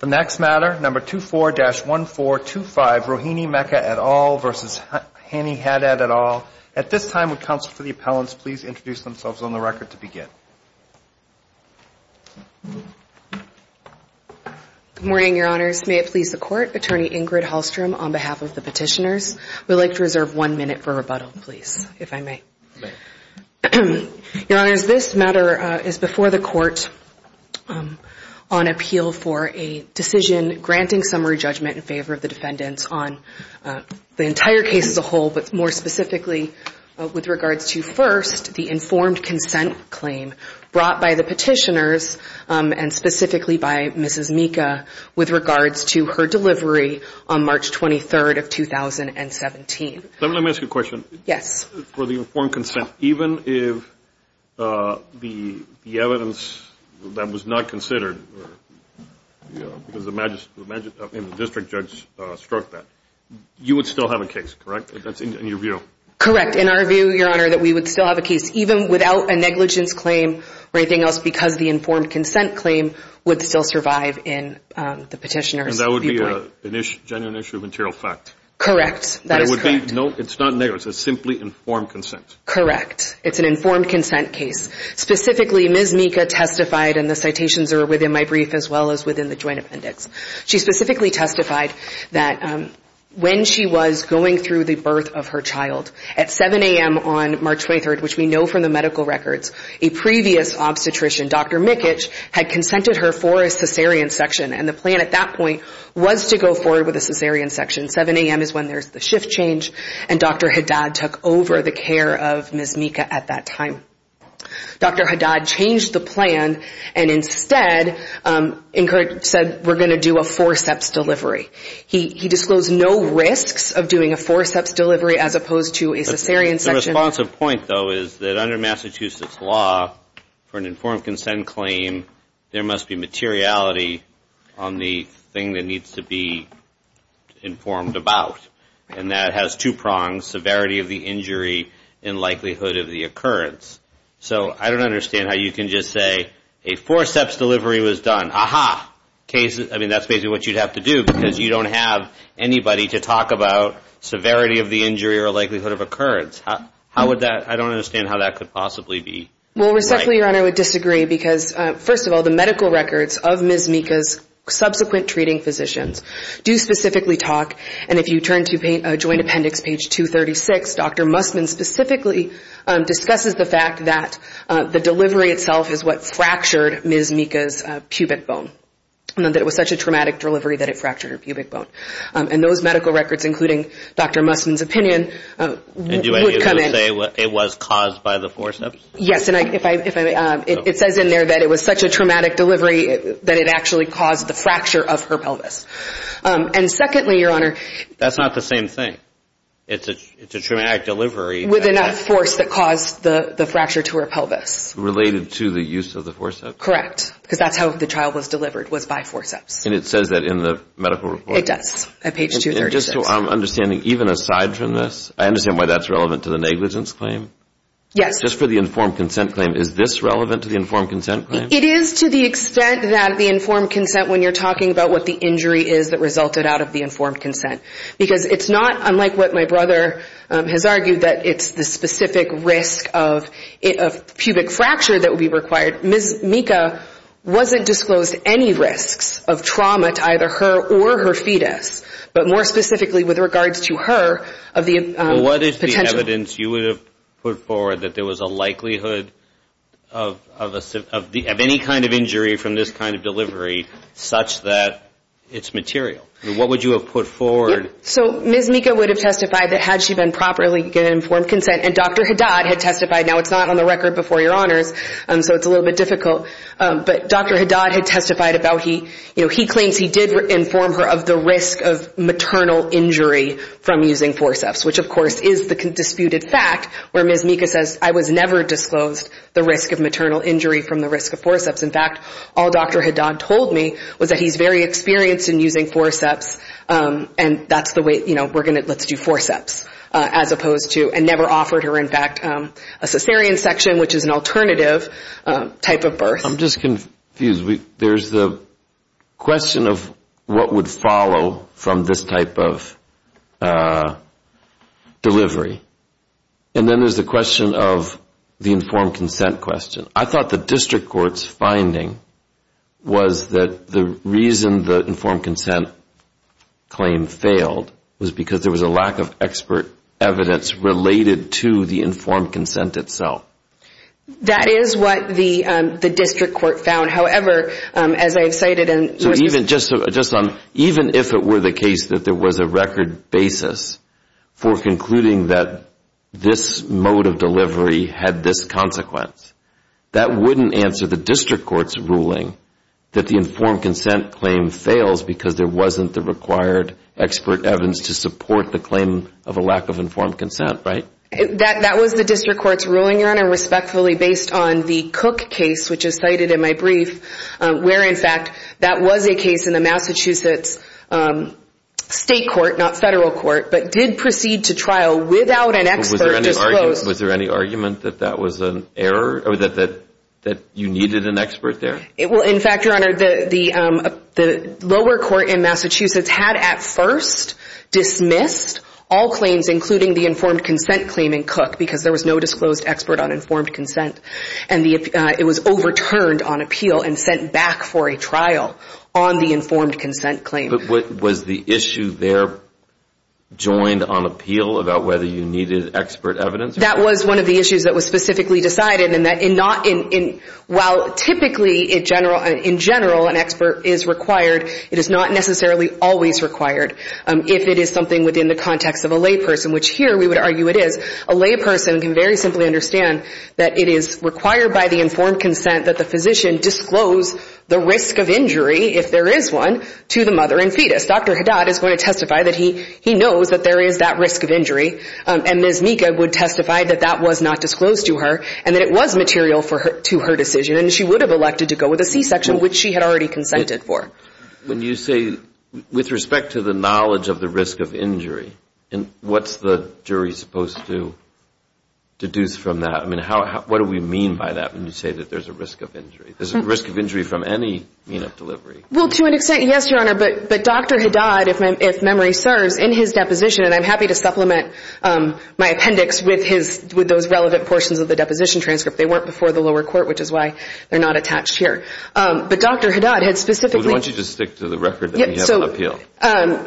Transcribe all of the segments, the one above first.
The next matter, No. 24-1425, Rohini Meka et al. v. Hanny Haddad et al. At this time, would counsel for the appellants please introduce themselves on the record to begin? Good morning, Your Honors, may it please the Court, Attorney Ingrid Hallstrom on behalf of the petitioners. We would like to reserve one minute for rebuttal, please, if I may. Your Honors, this matter is before the Court on appeal for a decision granting summary judgment in favor of the defendants on the entire case as a whole, but more specifically with regards to, first, the informed consent claim brought by the petitioners and specifically by Mrs. Meka with regards to her delivery on March 23rd of 2017. Let me ask you a question. Yes. For the informed consent, even if the evidence that was not considered, because the district judge struck that, you would still have a case, correct, in your view? Correct. In our view, Your Honor, that we would still have a case, even without a negligence claim or anything else, because the informed consent claim would still survive in the petitioners' And that would be a genuine issue of material fact? Correct. That is correct. No, it's not negligence. It's simply informed consent. It's an informed consent case. Specifically, Ms. Meka testified, and the citations are within my brief as well as within the joint appendix. She specifically testified that when she was going through the birth of her child, at 7 a.m. on March 23rd, which we know from the medical records, a previous obstetrician, Dr. Mikic, had consented her for a cesarean section, and the plan at that point was to go forward with a cesarean section. 7 a.m. is when there's the shift change, and Dr. Haddad took over the care of Ms. Mika at that time. Dr. Haddad changed the plan and instead said, we're going to do a forceps delivery. He disclosed no risks of doing a forceps delivery as opposed to a cesarean section. The responsive point, though, is that under Massachusetts law, for an informed consent claim, there must be materiality on the thing that needs to be informed about, and that has two prongs, severity of the injury and likelihood of the occurrence. So I don't understand how you can just say, a forceps delivery was done. Aha! I mean, that's basically what you'd have to do because you don't have anybody to talk about severity of the injury or likelihood of occurrence. How would that? I don't understand how that could possibly be. Well, respectfully, Your Honor, I would disagree because, first of all, the medical records of Ms. Mika's subsequent treating physicians do specifically talk, and if you turn to Joint Appendix, page 236, Dr. Musman specifically discusses the fact that the delivery itself is what fractured Ms. Mika's pubic bone, and that it was such a traumatic delivery that it fractured her pubic bone. And those medical records, including Dr. Musman's opinion, would come in. And do I need to say it was caused by the forceps? Yes. And it says in there that it was such a traumatic delivery that it actually caused the fracture of her pelvis. And secondly, Your Honor, That's not the same thing. It's a traumatic delivery. With enough force that caused the fracture to her pelvis. Related to the use of the forceps? Correct. Because that's how the child was delivered, was by forceps. And it says that in the medical report? It does, at page 236. And just so I'm understanding, even aside from this, I understand why that's relevant to the negligence claim? Yes. Just for the informed consent claim, is this relevant to the informed consent claim? It is, to the extent that the informed consent, when you're talking about what the injury is that resulted out of the informed consent. Because it's not, unlike what my brother has argued, that it's the specific risk of pubic fracture that would be required. Ms. Mika wasn't disclosed any risks of trauma to either her or her fetus. But more specifically, with regards to her, of the potential. What is the evidence you would have put forward that there was a likelihood of any kind of injury from this kind of delivery, such that it's material? What would you have put forward? So Ms. Mika would have testified that had she been properly getting informed consent. And Dr. Haddad had testified, now it's not on the record before your honors, so it's a little bit difficult. But Dr. Haddad had testified about, he claims he did inform her of the risk of maternal injury from using forceps. Which of course is the disputed fact, where Ms. Mika says, I was never disclosed the risk of maternal injury from the risk of forceps. In fact, all Dr. Haddad told me was that he's very experienced in using forceps, and that's the way, you know, let's do forceps. As opposed to, and never offered her in fact, a cesarean section, which is an alternative type of birth. I'm just confused. There's the question of what would follow from this type of delivery. And then there's the question of the informed consent question. I thought the district court's finding was that the reason the informed consent claim failed was because there was a lack of expert evidence related to the informed consent itself. That is what the district court found. However, as I've cited and... So even just on, even if it were the case that there was a record basis for concluding that this mode of delivery had this consequence, that wouldn't answer the district court's ruling that the informed consent claim fails because there wasn't the required expert evidence to support the claim of a lack of informed consent, right? That was the district court's ruling, Your Honor, respectfully based on the Cook case, which is cited in my brief, where in fact that was a case in the Massachusetts state court, not federal court, but did proceed to trial without an expert disclosed. Was there any argument that that was an error or that you needed an expert there? Well, in fact, Your Honor, the lower court in Massachusetts had at first dismissed all claims including the informed consent claim in Cook because there was no disclosed expert on informed consent. And it was overturned on appeal and sent back for a trial on the informed consent claim. Was the issue there joined on appeal about whether you needed expert evidence? That was one of the issues that was specifically decided and that in not, while typically in general an expert is required, it is not necessarily always required if it is something within the context of a layperson, which here we would argue it is. A layperson can very simply understand that it is required by the informed consent that the physician disclose the risk of injury, if there is one, to the mother and fetus. Dr. Haddad is going to testify that he knows that there is that risk of injury, and Ms. Mika would testify that that was not disclosed to her and that it was material to her decision and she would have elected to go with a C-section, which she had already consented for. When you say, with respect to the knowledge of the risk of injury, what is the jury supposed to deduce from that? I mean, what do we mean by that when you say that there is a risk of injury? Is there a risk of injury from any mean of delivery? Well, to an extent, yes, Your Honor, but Dr. Haddad, if memory serves, in his deposition, and I am happy to supplement my appendix with those relevant portions of the deposition transcript. They weren't before the lower court, which is why they are not attached here. But Dr. Haddad had specifically... We want you to stick to the record that you have an appeal.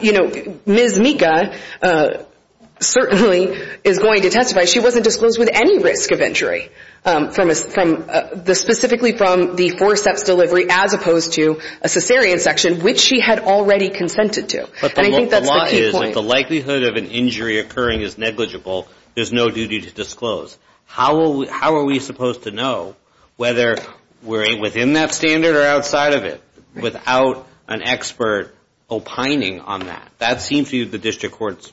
You know, Ms. Mika certainly is going to testify she wasn't disclosed with any risk of injury, specifically from the four steps delivery as opposed to a cesarean section, which she had already consented to, and I think that is the key point. But the likelihood of an injury occurring is negligible. There is no duty to disclose. How are we supposed to know whether we are within that standard or outside of it without an expert opining on that? That seems to be the district court's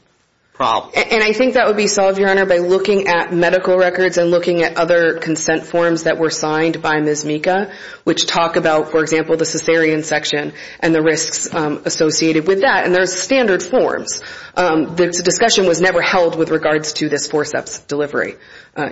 problem. And I think that would be solved, Your Honor, by looking at medical records and looking at other consent forms that were signed by Ms. Mika, which talk about, for example, the cesarean section and the risks associated with that, and there are standard forms. The discussion was never held with regards to this four steps delivery,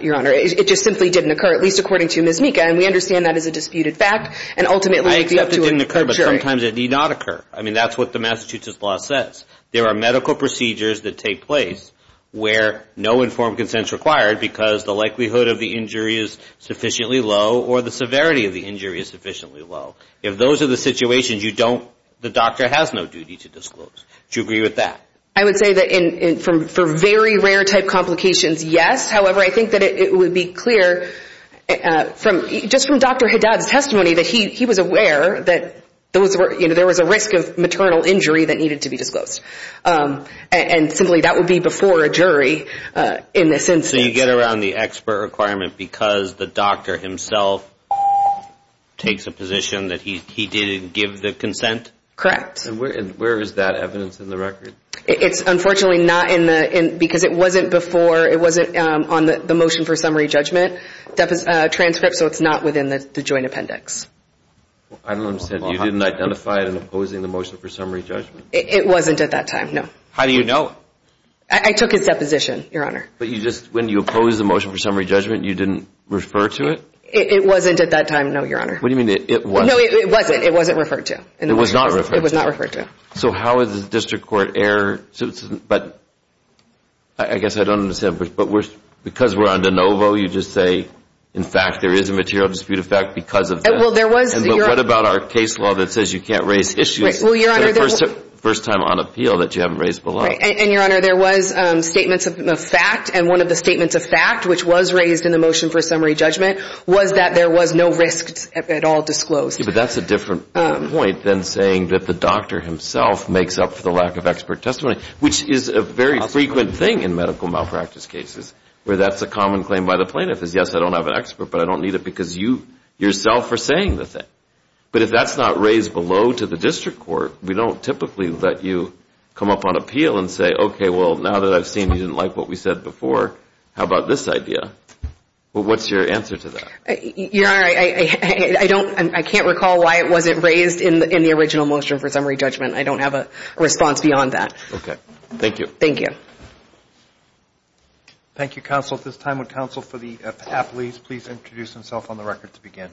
Your Honor. It just simply didn't occur, at least according to Ms. Mika, and we understand that is a disputed fact, and ultimately... I accept it didn't occur, but sometimes it need not occur. I mean, that's what the Massachusetts law says. There are medical procedures that take place where no informed consent is required because the likelihood of the injury is sufficiently low or the severity of the injury is sufficiently low. If those are the situations, you don't... The doctor has no duty to disclose. Do you agree with that? I would say that for very rare type complications, yes. However, I think that it would be clear, just from Dr. Haddad's testimony, that he was aware that there was a risk of maternal injury that needed to be disclosed, and simply that would be before a jury in this instance. So you get around the expert requirement because the doctor himself takes a position that he didn't give the consent? Correct. And where is that evidence in the record? It's unfortunately not in the... Because it wasn't before... It wasn't on the motion for summary judgment transcript, so it's not within the joint appendix. I don't understand. You didn't identify it in opposing the motion for summary judgment? It wasn't at that time, no. How do you know? I took his deposition, Your Honor. But you just... When you opposed the motion for summary judgment, you didn't refer to it? It wasn't at that time, no, Your Honor. What do you mean, it wasn't? No, it wasn't. It wasn't referred to. It was not referred to. It was not referred to. So how is the district court error... But I guess I don't understand, but because we're on de novo, you just say, in fact, there is a material dispute of fact because of this? Well, there was... And what about our case law that says you can't raise issues for the first time on appeal that you haven't raised below? And, Your Honor, there was statements of fact, and one of the statements of fact, which was raised in the motion for summary judgment, was that there was no risks at all disclosed. But that's a different point than saying that the doctor himself makes up for the lack of expert testimony, which is a very frequent thing in medical malpractice cases, where that's a common claim by the plaintiff is, yes, I don't have an expert, but I don't need it because you yourself are saying the thing. But if that's not raised below to the district court, we don't typically let you come up on appeal and say, okay, well, now that I've seen you didn't like what we said before, how about this idea? What's your answer to that? Your Honor, I don't... I can't recall why it wasn't raised in the original motion for summary judgment. I don't have a response beyond that. Okay. Thank you. Thank you. Thank you, counsel. At this time, would counsel for the appellees please introduce themselves on the record to begin?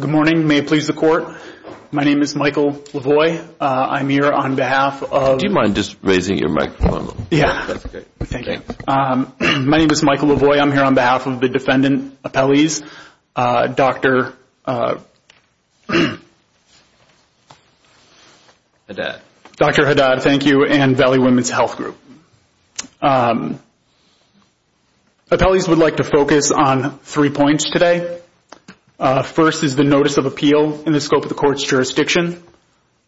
Good morning. May it please the Court. My name is Michael Lavoie. I'm here on behalf of... Do you mind just raising your microphone a little bit? Yeah. That's great. Thank you. My name is Michael Lavoie. I'm here on behalf of the defendant appellees, Dr. Haddad. Dr. Haddad, thank you, and Valley Women's Health Group. Appellees would like to focus on three points today. First is the notice of appeal in the scope of the court's jurisdiction.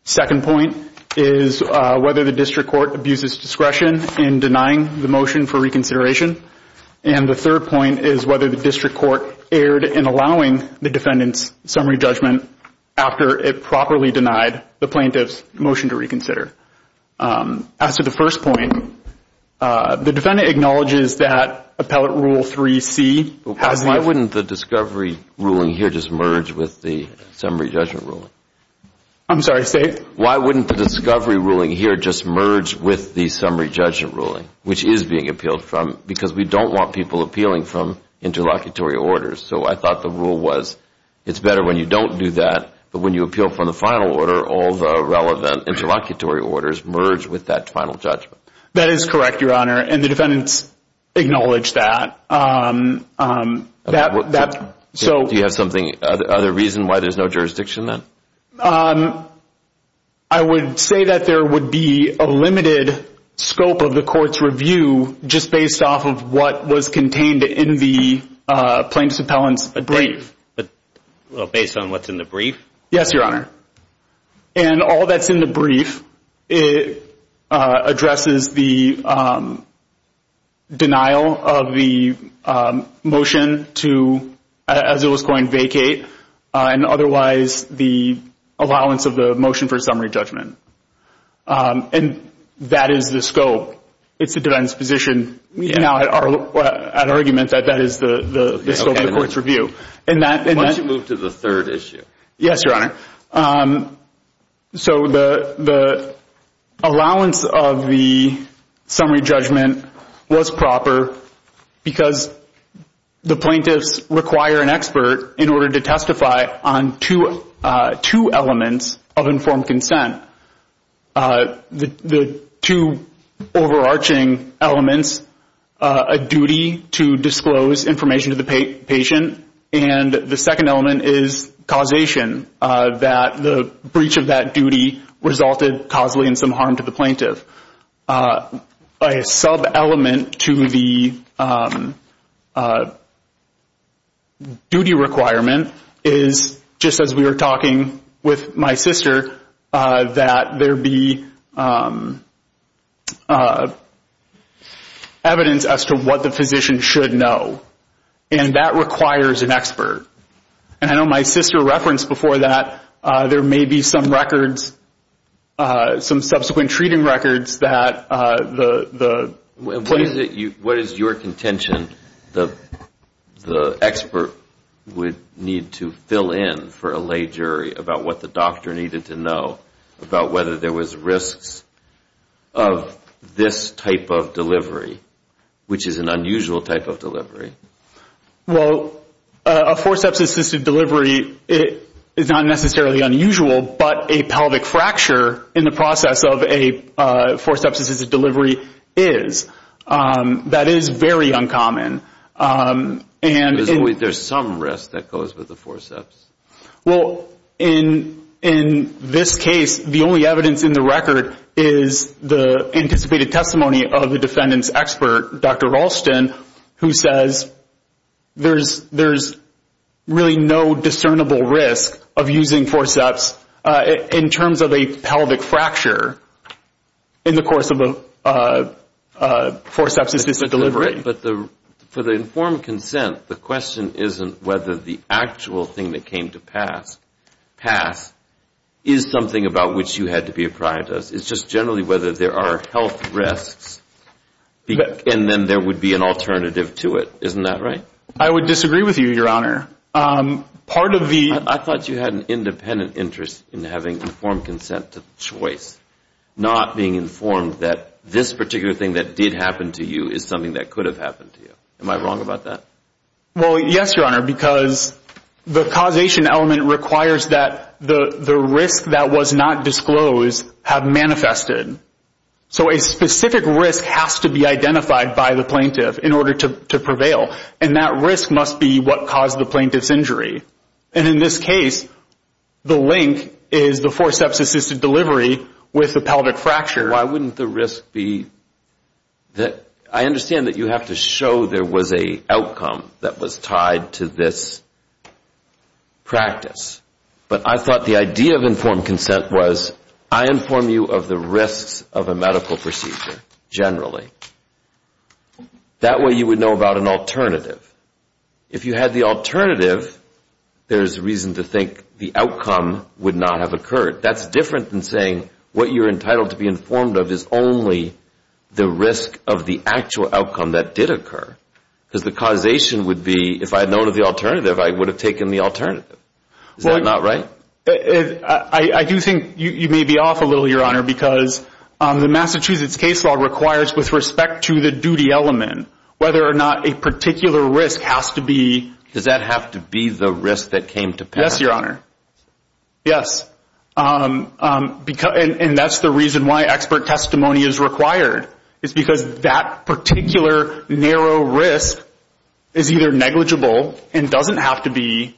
Second point is whether the district court abuses discretion in denying the motion for reconsideration. And the third point is whether the district court erred in allowing the defendant's summary judgment after it properly denied the plaintiff's motion to reconsider. As to the first point, the defendant acknowledges that appellate rule 3C has the... Why wouldn't the discovery ruling here just merge with the summary judgment ruling? I'm sorry. Say it. Why wouldn't the discovery ruling here just merge with the summary judgment ruling, which is being appealed from, because we don't want people appealing from interlocutory orders. So I thought the rule was it's better when you don't do that, but when you appeal from the final order, all the relevant interlocutory orders merge with that final judgment. That is correct, Your Honor, and the defendants acknowledge that. Do you have some other reason why there's no jurisdiction then? I would say that there would be a limited scope of the court's review just based off of what was contained in the plaintiff's appellant's brief. Based on what's in the brief? Yes, Your Honor, and all that's in the brief addresses the denial of the motion to, as it was coined, vacate, and otherwise the allowance of the motion for summary judgment, and that is the scope. It's the defendant's position at argument that that is the scope of the court's review. Why don't you move to the third issue? Yes, Your Honor, so the allowance of the summary judgment was proper because the plaintiffs require an expert in order to testify on two elements of informed consent. The two overarching elements, a duty to disclose information to the patient, and the second element is causation, that the breach of that duty resulted causally in some harm to the plaintiff. A sub-element to the duty requirement is, just as we were talking with my sister, that there be evidence as to what the physician should know, and that requires an expert. And I know my sister referenced before that there may be some records, some subsequent treating records that the plaintiff What is your contention that the expert would need to fill in for a lay jury about what the doctor needed to know, about whether there was risks of this type of delivery, which is an unusual type of delivery? Well, a forceps-assisted delivery is not necessarily unusual, but a pelvic fracture in the process of a forceps-assisted delivery is. That is very uncommon. There's some risk that goes with the forceps. Well, in this case, the only evidence in the record is the anticipated testimony of the defendant's expert, Dr. Ralston, who says there's really no discernible risk of using forceps in terms of a pelvic fracture in the course of a forceps-assisted delivery. But for the informed consent, the question isn't whether the actual thing that came to pass is something about which you had to be apprised of. It's just generally whether there are health risks, and then there would be an alternative to it. Isn't that right? I would disagree with you, Your Honor. I thought you had an independent interest in having informed consent to choice, not being informed that this particular thing that did happen to you is something that could have happened to you. Am I wrong about that? Well, yes, Your Honor, because the causation element requires that the risks that was not disclosed have manifested. So a specific risk has to be identified by the plaintiff in order to prevail, and that risk must be what caused the plaintiff's injury. And in this case, the link is the forceps-assisted delivery with the pelvic fracture. So why wouldn't the risk be that I understand that you have to show there was an outcome that was tied to this practice, but I thought the idea of informed consent was I inform you of the risks of a medical procedure generally. That way you would know about an alternative. If you had the alternative, there's reason to think the outcome would not have occurred. That's different than saying what you're entitled to be informed of is only the risk of the actual outcome that did occur, because the causation would be if I had known of the alternative, I would have taken the alternative. Is that not right? I do think you may be off a little, Your Honor, because the Massachusetts case law requires, with respect to the duty element, whether or not a particular risk has to be. Does that have to be the risk that came to pass? Yes, Your Honor. Yes. And that's the reason why expert testimony is required, is because that particular narrow risk is either negligible and doesn't have to be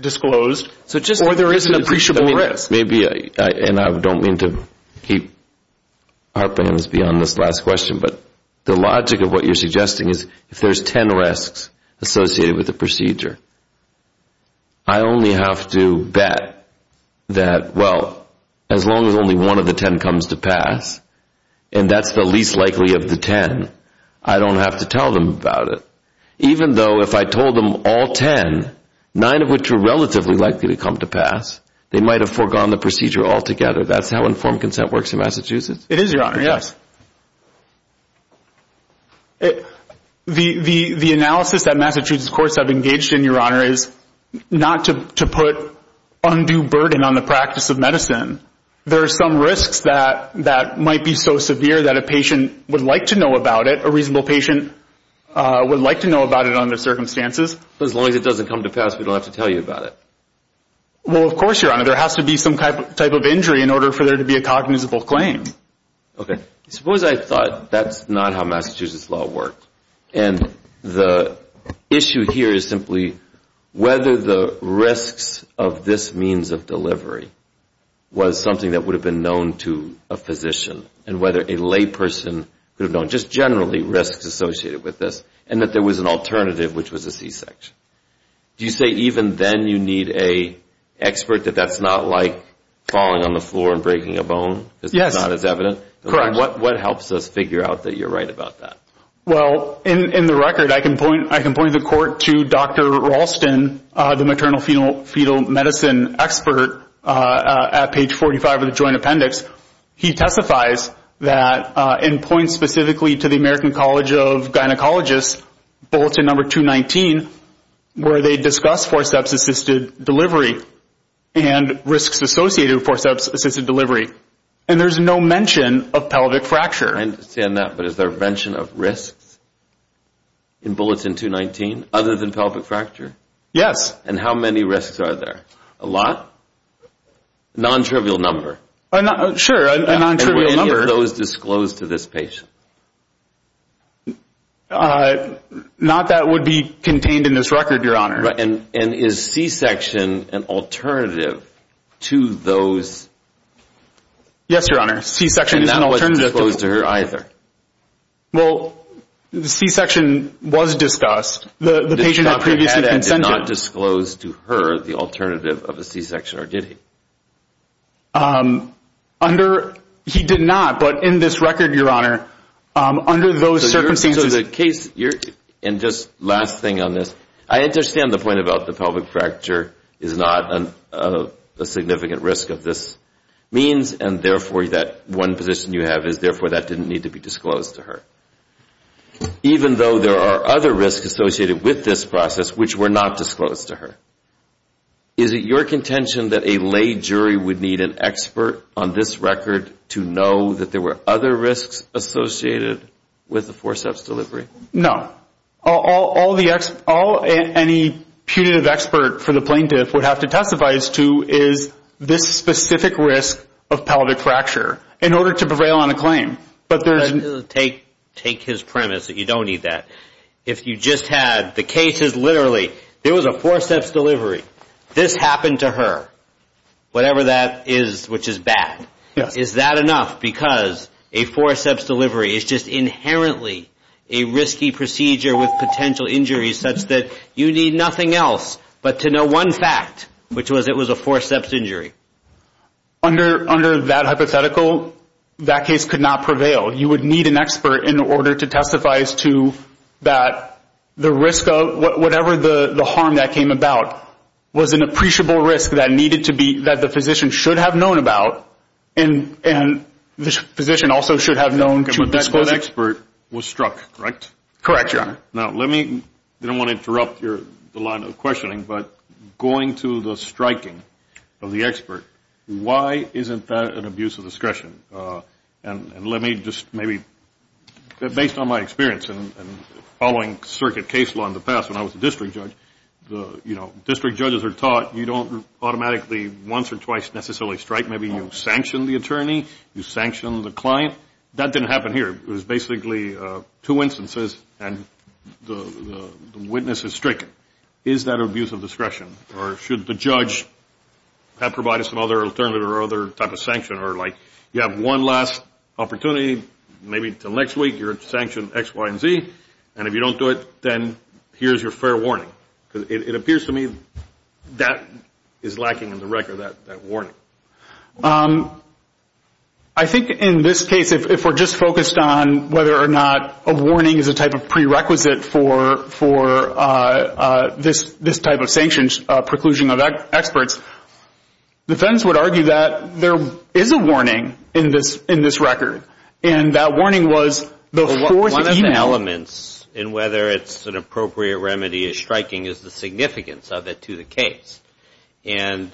disclosed or there is an appreciable risk. And I don't mean to keep our plans beyond this last question, but the logic of what you're suggesting is if there's 10 risks associated with a procedure, I only have to bet that, well, as long as only one of the 10 comes to pass and that's the least likely of the 10, I don't have to tell them about it. Even though if I told them all 10, 9 of which are relatively likely to come to pass, they might have foregone the procedure altogether. That's how informed consent works in Massachusetts. It is, Your Honor. Yes. The analysis that Massachusetts courts have engaged in, Your Honor, is not to put undue burden on the practice of medicine. There are some risks that might be so severe that a patient would like to know about it, a reasonable patient would like to know about it under circumstances. As long as it doesn't come to pass, we don't have to tell you about it. Well, of course, Your Honor. There has to be some type of injury in order for there to be a cognizable claim. Okay. Suppose I thought that's not how Massachusetts law worked and the issue here is simply whether the risks of this means of delivery was something that would have been known to a physician and whether a lay person could have known just generally risks associated with this and that there was an alternative, which was a C-section. Do you say even then you need an expert that that's not like falling on the floor and breaking a bone? Yes. That's not as evident? Correct. What helps us figure out that you're right about that? Well, in the record, I can point the court to Dr. Ralston, the maternal fetal medicine expert at page 45 of the joint appendix. He testifies and points specifically to the American College of Gynecologists, bulletin number 219, where they discuss forceps-assisted delivery and risks associated with forceps-assisted delivery. And there's no mention of pelvic fracture. I understand that, but is there a mention of risks in bulletin 219 other than pelvic fracture? Yes. And how many risks are there? A lot? A non-trivial number. Sure, a non-trivial number. And were any of those disclosed to this patient? Not that would be contained in this record, Your Honor. And is C-section an alternative to those? Yes, Your Honor. C-section is an alternative. And that wasn't disclosed to her either? Well, C-section was discussed. The patient had previously consented. The patient did not disclose to her the alternative of a C-section, or did he? He did not, but in this record, Your Honor, under those circumstances. And just last thing on this, I understand the point about the pelvic fracture is not a significant risk of this means, and therefore that one position you have is therefore that didn't need to be disclosed to her, even though there are other risks associated with this process which were not disclosed to her. Is it your contention that a lay jury would need an expert on this record to know that there were other risks associated with the forceps delivery? No. Any punitive expert for the plaintiff would have to testify as to is this specific risk of pelvic fracture in order to prevail on a claim. Take his premise that you don't need that. If you just had the cases literally, there was a forceps delivery, this happened to her, whatever that is which is bad, is that enough because a forceps delivery is just inherently a risky procedure with potential injuries such that you need nothing else but to know one fact, which was it was a forceps injury. Under that hypothetical, that case could not prevail. You would need an expert in order to testify as to that the risk of whatever the harm that came about was an appreciable risk that the physician should have known about and the physician also should have known to have disclosed it. But that expert was struck, correct? Correct, Your Honor. Now let me, I don't want to interrupt the line of questioning, but going to the striking of the expert, why isn't that an abuse of discretion? And let me just maybe, based on my experience in following circuit case law in the past when I was a district judge, you know, district judges are taught you don't automatically once or twice necessarily strike. Maybe you sanction the attorney, you sanction the client. That didn't happen here. It was basically two instances and the witness is stricken. Is that an abuse of discretion or should the judge provide us another alternative or other type of sanction or like you have one last opportunity, maybe until next week you're sanctioned X, Y, and Z, and if you don't do it, then here's your fair warning? Because it appears to me that is lacking in the record, that warning. I think in this case, if we're just focused on whether or not a warning is a type of prerequisite for this type of sanctioned preclusion of experts, defense would argue that there is a warning in this record, and that warning was before the email. One of the elements in whether it's an appropriate remedy is striking is the significance of it to the case. And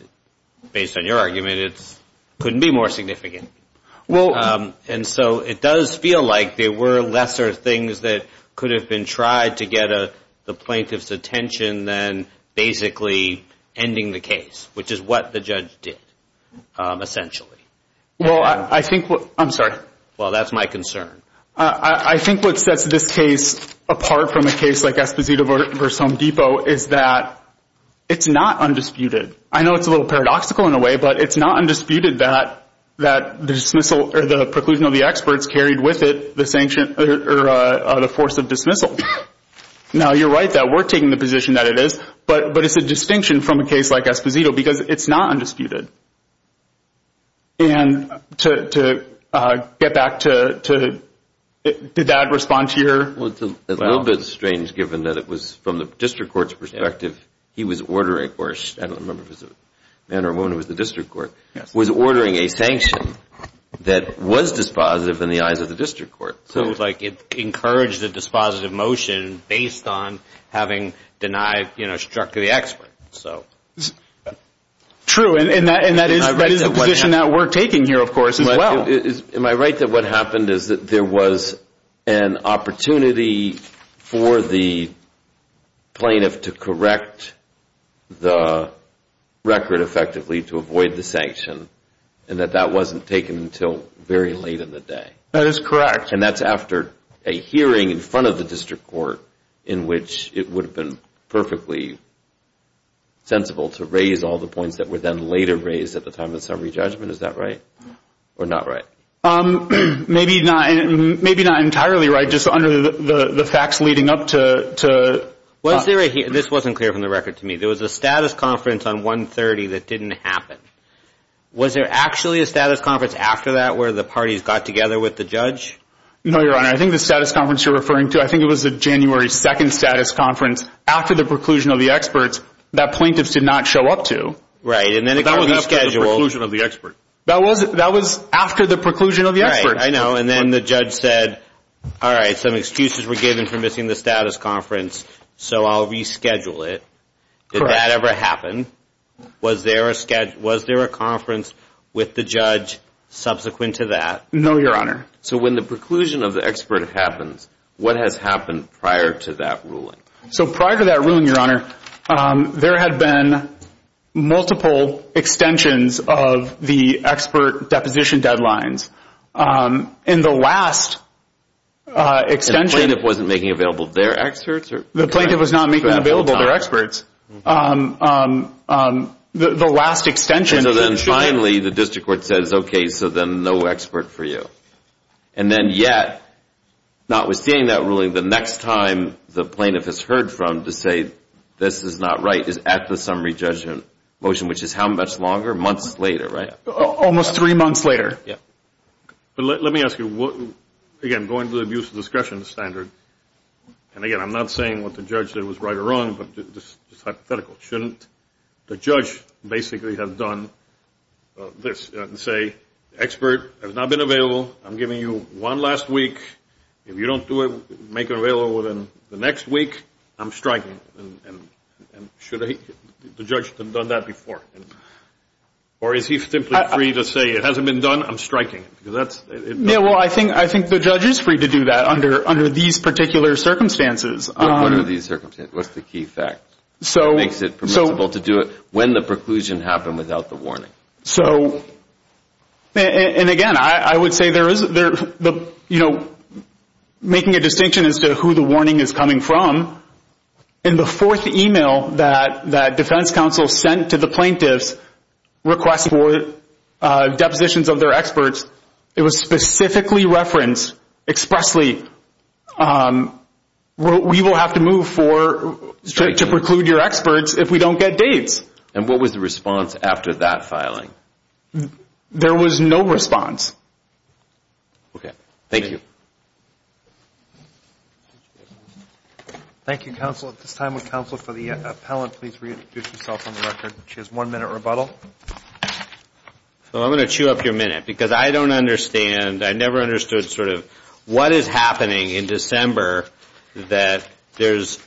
based on your argument, it couldn't be more significant. And so it does feel like there were lesser things that could have been tried to get the plaintiff's attention than basically ending the case, which is what the judge did essentially. I'm sorry. Well, that's my concern. I think what sets this case apart from a case like Esposito v. Home Depot is that it's not undisputed. I know it's a little paradoxical in a way, but it's not undisputed that the preclusion of the experts carried with it the force of dismissal. Now, you're right that we're taking the position that it is, but it's a distinction from a case like Esposito because it's not undisputed. And to get back to that response here. Well, it's a little bit strange given that it was from the district court's perspective he was ordering, or I don't remember if it was a man or a woman who was the district court, was ordering a sanction that was dispositive in the eyes of the district court. It encouraged the dispositive motion based on having struck to the expert. True, and that is the position that we're taking here, of course, as well. Am I right that what happened is that there was an opportunity for the plaintiff to correct the record effectively to avoid the sanction and that that wasn't taken until very late in the day? That is correct. And that's after a hearing in front of the district court in which it would have been perfectly sensible to raise all the points that were then later raised at the time of the summary judgment, is that right? Or not right? Maybe not entirely right, just under the facts leading up to. This wasn't clear from the record to me. There was a status conference on 1-30 that didn't happen. Was there actually a status conference after that where the parties got together with the judge? No, Your Honor. I think the status conference you're referring to, I think it was the January 2nd status conference after the preclusion of the experts that plaintiffs did not show up to. Right, and then it got rescheduled. But that was after the preclusion of the expert. That was after the preclusion of the expert. Right, I know, and then the judge said, all right, some excuses were given for missing the status conference, so I'll reschedule it. Did that ever happen? Was there a conference with the judge subsequent to that? No, Your Honor. So when the preclusion of the expert happens, what has happened prior to that ruling? So prior to that ruling, Your Honor, there had been multiple extensions of the expert deposition deadlines. And the last extension… The plaintiff wasn't making available their experts? The plaintiff was not making available their experts. The last extension… And so then finally the district court says, okay, so then no expert for you. And then yet, notwithstanding that ruling, the next time the plaintiff is heard from to say this is not right is at the summary judgment motion, which is how much longer? Months later, right? Almost three months later. Yeah. But let me ask you, again, going to the abuse of discretion standard, and, again, I'm not saying what the judge did was right or wrong, but just hypothetical, shouldn't the judge basically have done this and say, expert has not been available, I'm giving you one last week. If you don't make it available within the next week, I'm striking. And should the judge have done that before? Or is he simply free to say it hasn't been done, I'm striking? Well, I think the judge is free to do that under these particular circumstances. What are these circumstances? What's the key fact that makes it permissible to do it when the preclusion happened without the warning? So, and, again, I would say there is, you know, making a distinction as to who the warning is coming from, in the fourth email that defense counsel sent to the plaintiffs requesting for depositions of their experts, it was specifically referenced expressly, we will have to move to preclude your experts if we don't get dates. And what was the response after that filing? There was no response. Okay, thank you. Thank you, counsel. At this time, would counsel for the appellant please reintroduce yourself on the record. She has one minute rebuttal. So I'm going to chew up your minute because I don't understand, I never understood sort of what is happening in December that there's,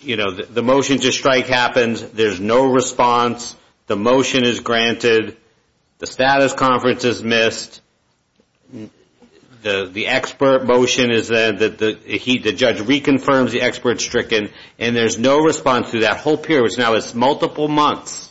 you know, the motion to strike happens, there's no response, the motion is granted, the status conference is missed, the expert motion is there, the judge reconfirms the expert stricken, and there's no response through that whole period, which now is multiple months.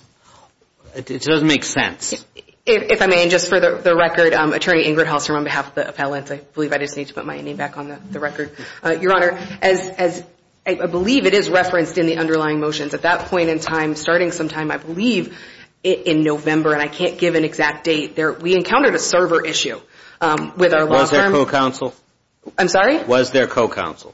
It doesn't make sense. If I may, and just for the record, Attorney Ingrid Halstrom on behalf of the appellant, I believe I just need to put my name back on the record. Your Honor, as I believe it is referenced in the underlying motions, at that point in time, starting sometime, I believe, in November, and I can't give an exact date, we encountered a server issue with our law firm. Was there co-counsel? I'm sorry? Was there co-counsel?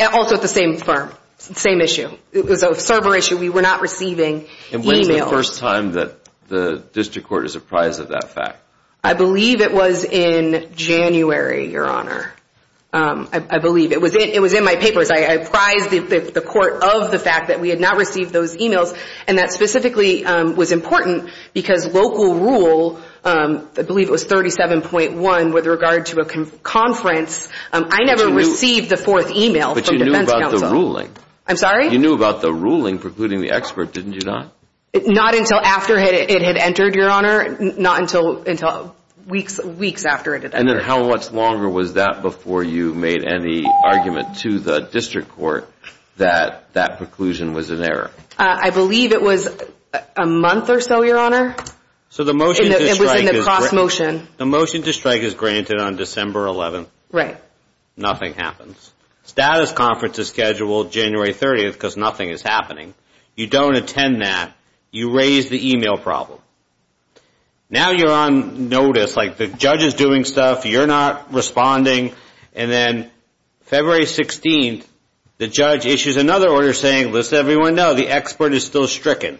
Also at the same firm, same issue. It was a server issue. We were not receiving emails. And when is the first time that the district court is apprised of that fact? I believe it was in January, Your Honor. I believe. It was in my papers. I apprised the court of the fact that we had not received those emails, and that specifically was important because local rule, I believe it was 37.1 with regard to a conference, I never received the fourth email from defense counsel. I'm sorry? You knew about the ruling precluding the expert, didn't you not? Not until after it had entered, Your Honor. Not until weeks after it had entered. And then how much longer was that before you made any argument to the district court that that preclusion was an error? I believe it was a month or so, Your Honor. So the motion to strike is granted on December 11th. Right. Nothing happens. Status conference is scheduled January 30th because nothing is happening. You don't attend that. You raise the email problem. Now you're on notice, like the judge is doing stuff. You're not responding. And then February 16th, the judge issues another order saying, let's everyone know, the expert is still stricken.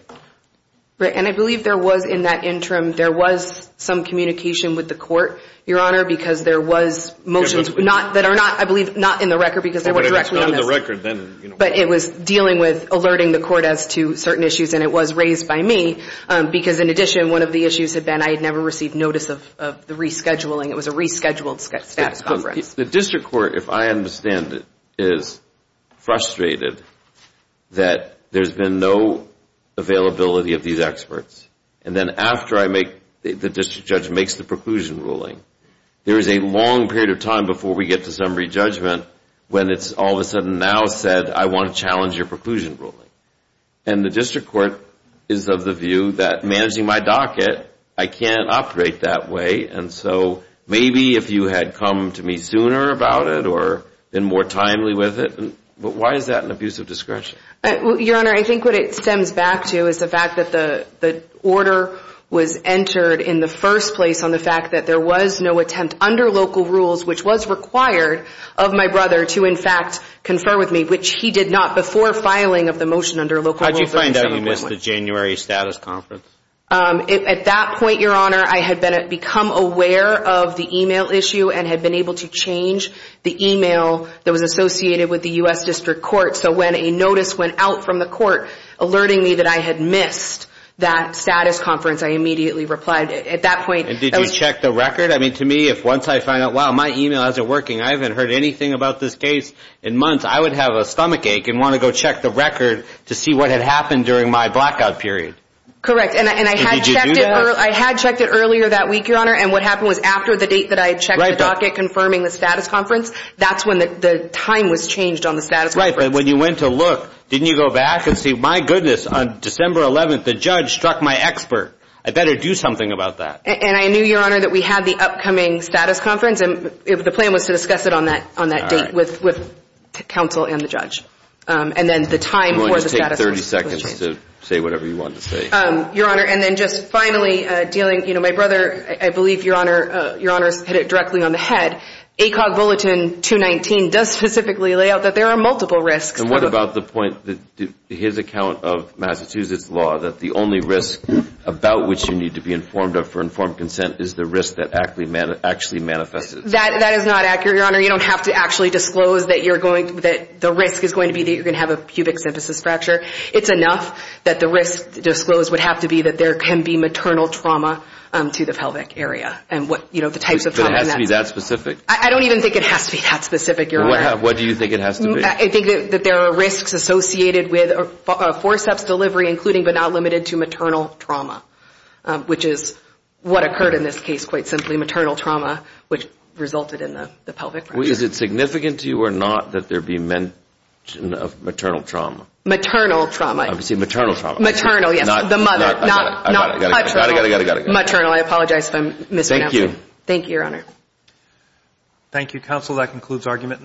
Right, and I believe there was, in that interim, there was some communication with the court, Your Honor, because there was motions that are not, I believe, not in the record because they weren't directly on this. But it was dealing with alerting the court as to certain issues, and it was raised by me because, in addition, one of the issues had been I had never received notice of the rescheduling. It was a rescheduled status conference. The district court, if I understand it, is frustrated that there's been no availability of these experts. And then after the district judge makes the preclusion ruling, there is a long period of time before we get to summary judgment when it's all of a sudden now said, I want to challenge your preclusion ruling. And the district court is of the view that, managing my docket, I can't operate that way, and so maybe if you had come to me sooner about it or been more timely with it, but why is that an abuse of discretion? Your Honor, I think what it stems back to is the fact that the order was entered in the first place on the fact that there was no attempt under local rules, which was required of my brother to, in fact, confer with me, which he did not before filing of the motion under local rules. How did you find out you missed the January status conference? At that point, Your Honor, I had become aware of the e-mail issue and had been able to change the e-mail that was associated with the U.S. district court. So when a notice went out from the court alerting me that I had missed that status conference, I immediately replied. At that point, that was... And did you check the record? I mean, to me, if once I find out, wow, my e-mail isn't working, I haven't heard anything about this case in months, I would have a stomachache and want to go check the record to see what had happened during my blackout period. Correct, and I had checked it earlier that week, Your Honor, and what happened was after the date that I checked the docket confirming the status conference, that's when the time was changed on the status conference. That's right, but when you went to look, didn't you go back and see, my goodness, on December 11th, the judge struck my expert. I better do something about that. And I knew, Your Honor, that we had the upcoming status conference, and the plan was to discuss it on that date with counsel and the judge. And then the time for the status conference was changed. I'm going to take 30 seconds to say whatever you want to say. Your Honor, and then just finally dealing... You know, my brother, I believe, Your Honor, hit it directly on the head. ACOG Bulletin 219 does specifically lay out that there are multiple risks. And what about the point, his account of Massachusetts law, that the only risk about which you need to be informed of for informed consent is the risk that actually manifests? That is not accurate, Your Honor. You don't have to actually disclose that the risk is going to be that you're going to have a pubic symphysis fracture. It's enough that the risk disclosed would have to be that there can be maternal trauma to the pelvic area, and what, you know, the types of trauma... But it has to be that specific? I don't even think it has to be that specific, Your Honor. What do you think it has to be? I think that there are risks associated with forceps delivery, including but not limited to maternal trauma, which is what occurred in this case, quite simply, maternal trauma, which resulted in the pelvic fracture. Is it significant to you or not that there be mention of maternal trauma? Maternal trauma. I'm saying maternal trauma. Maternal, yes. The mother. I got it. I got it. Thank you. Thank you, Your Honor. Thank you, counsel. That concludes argument.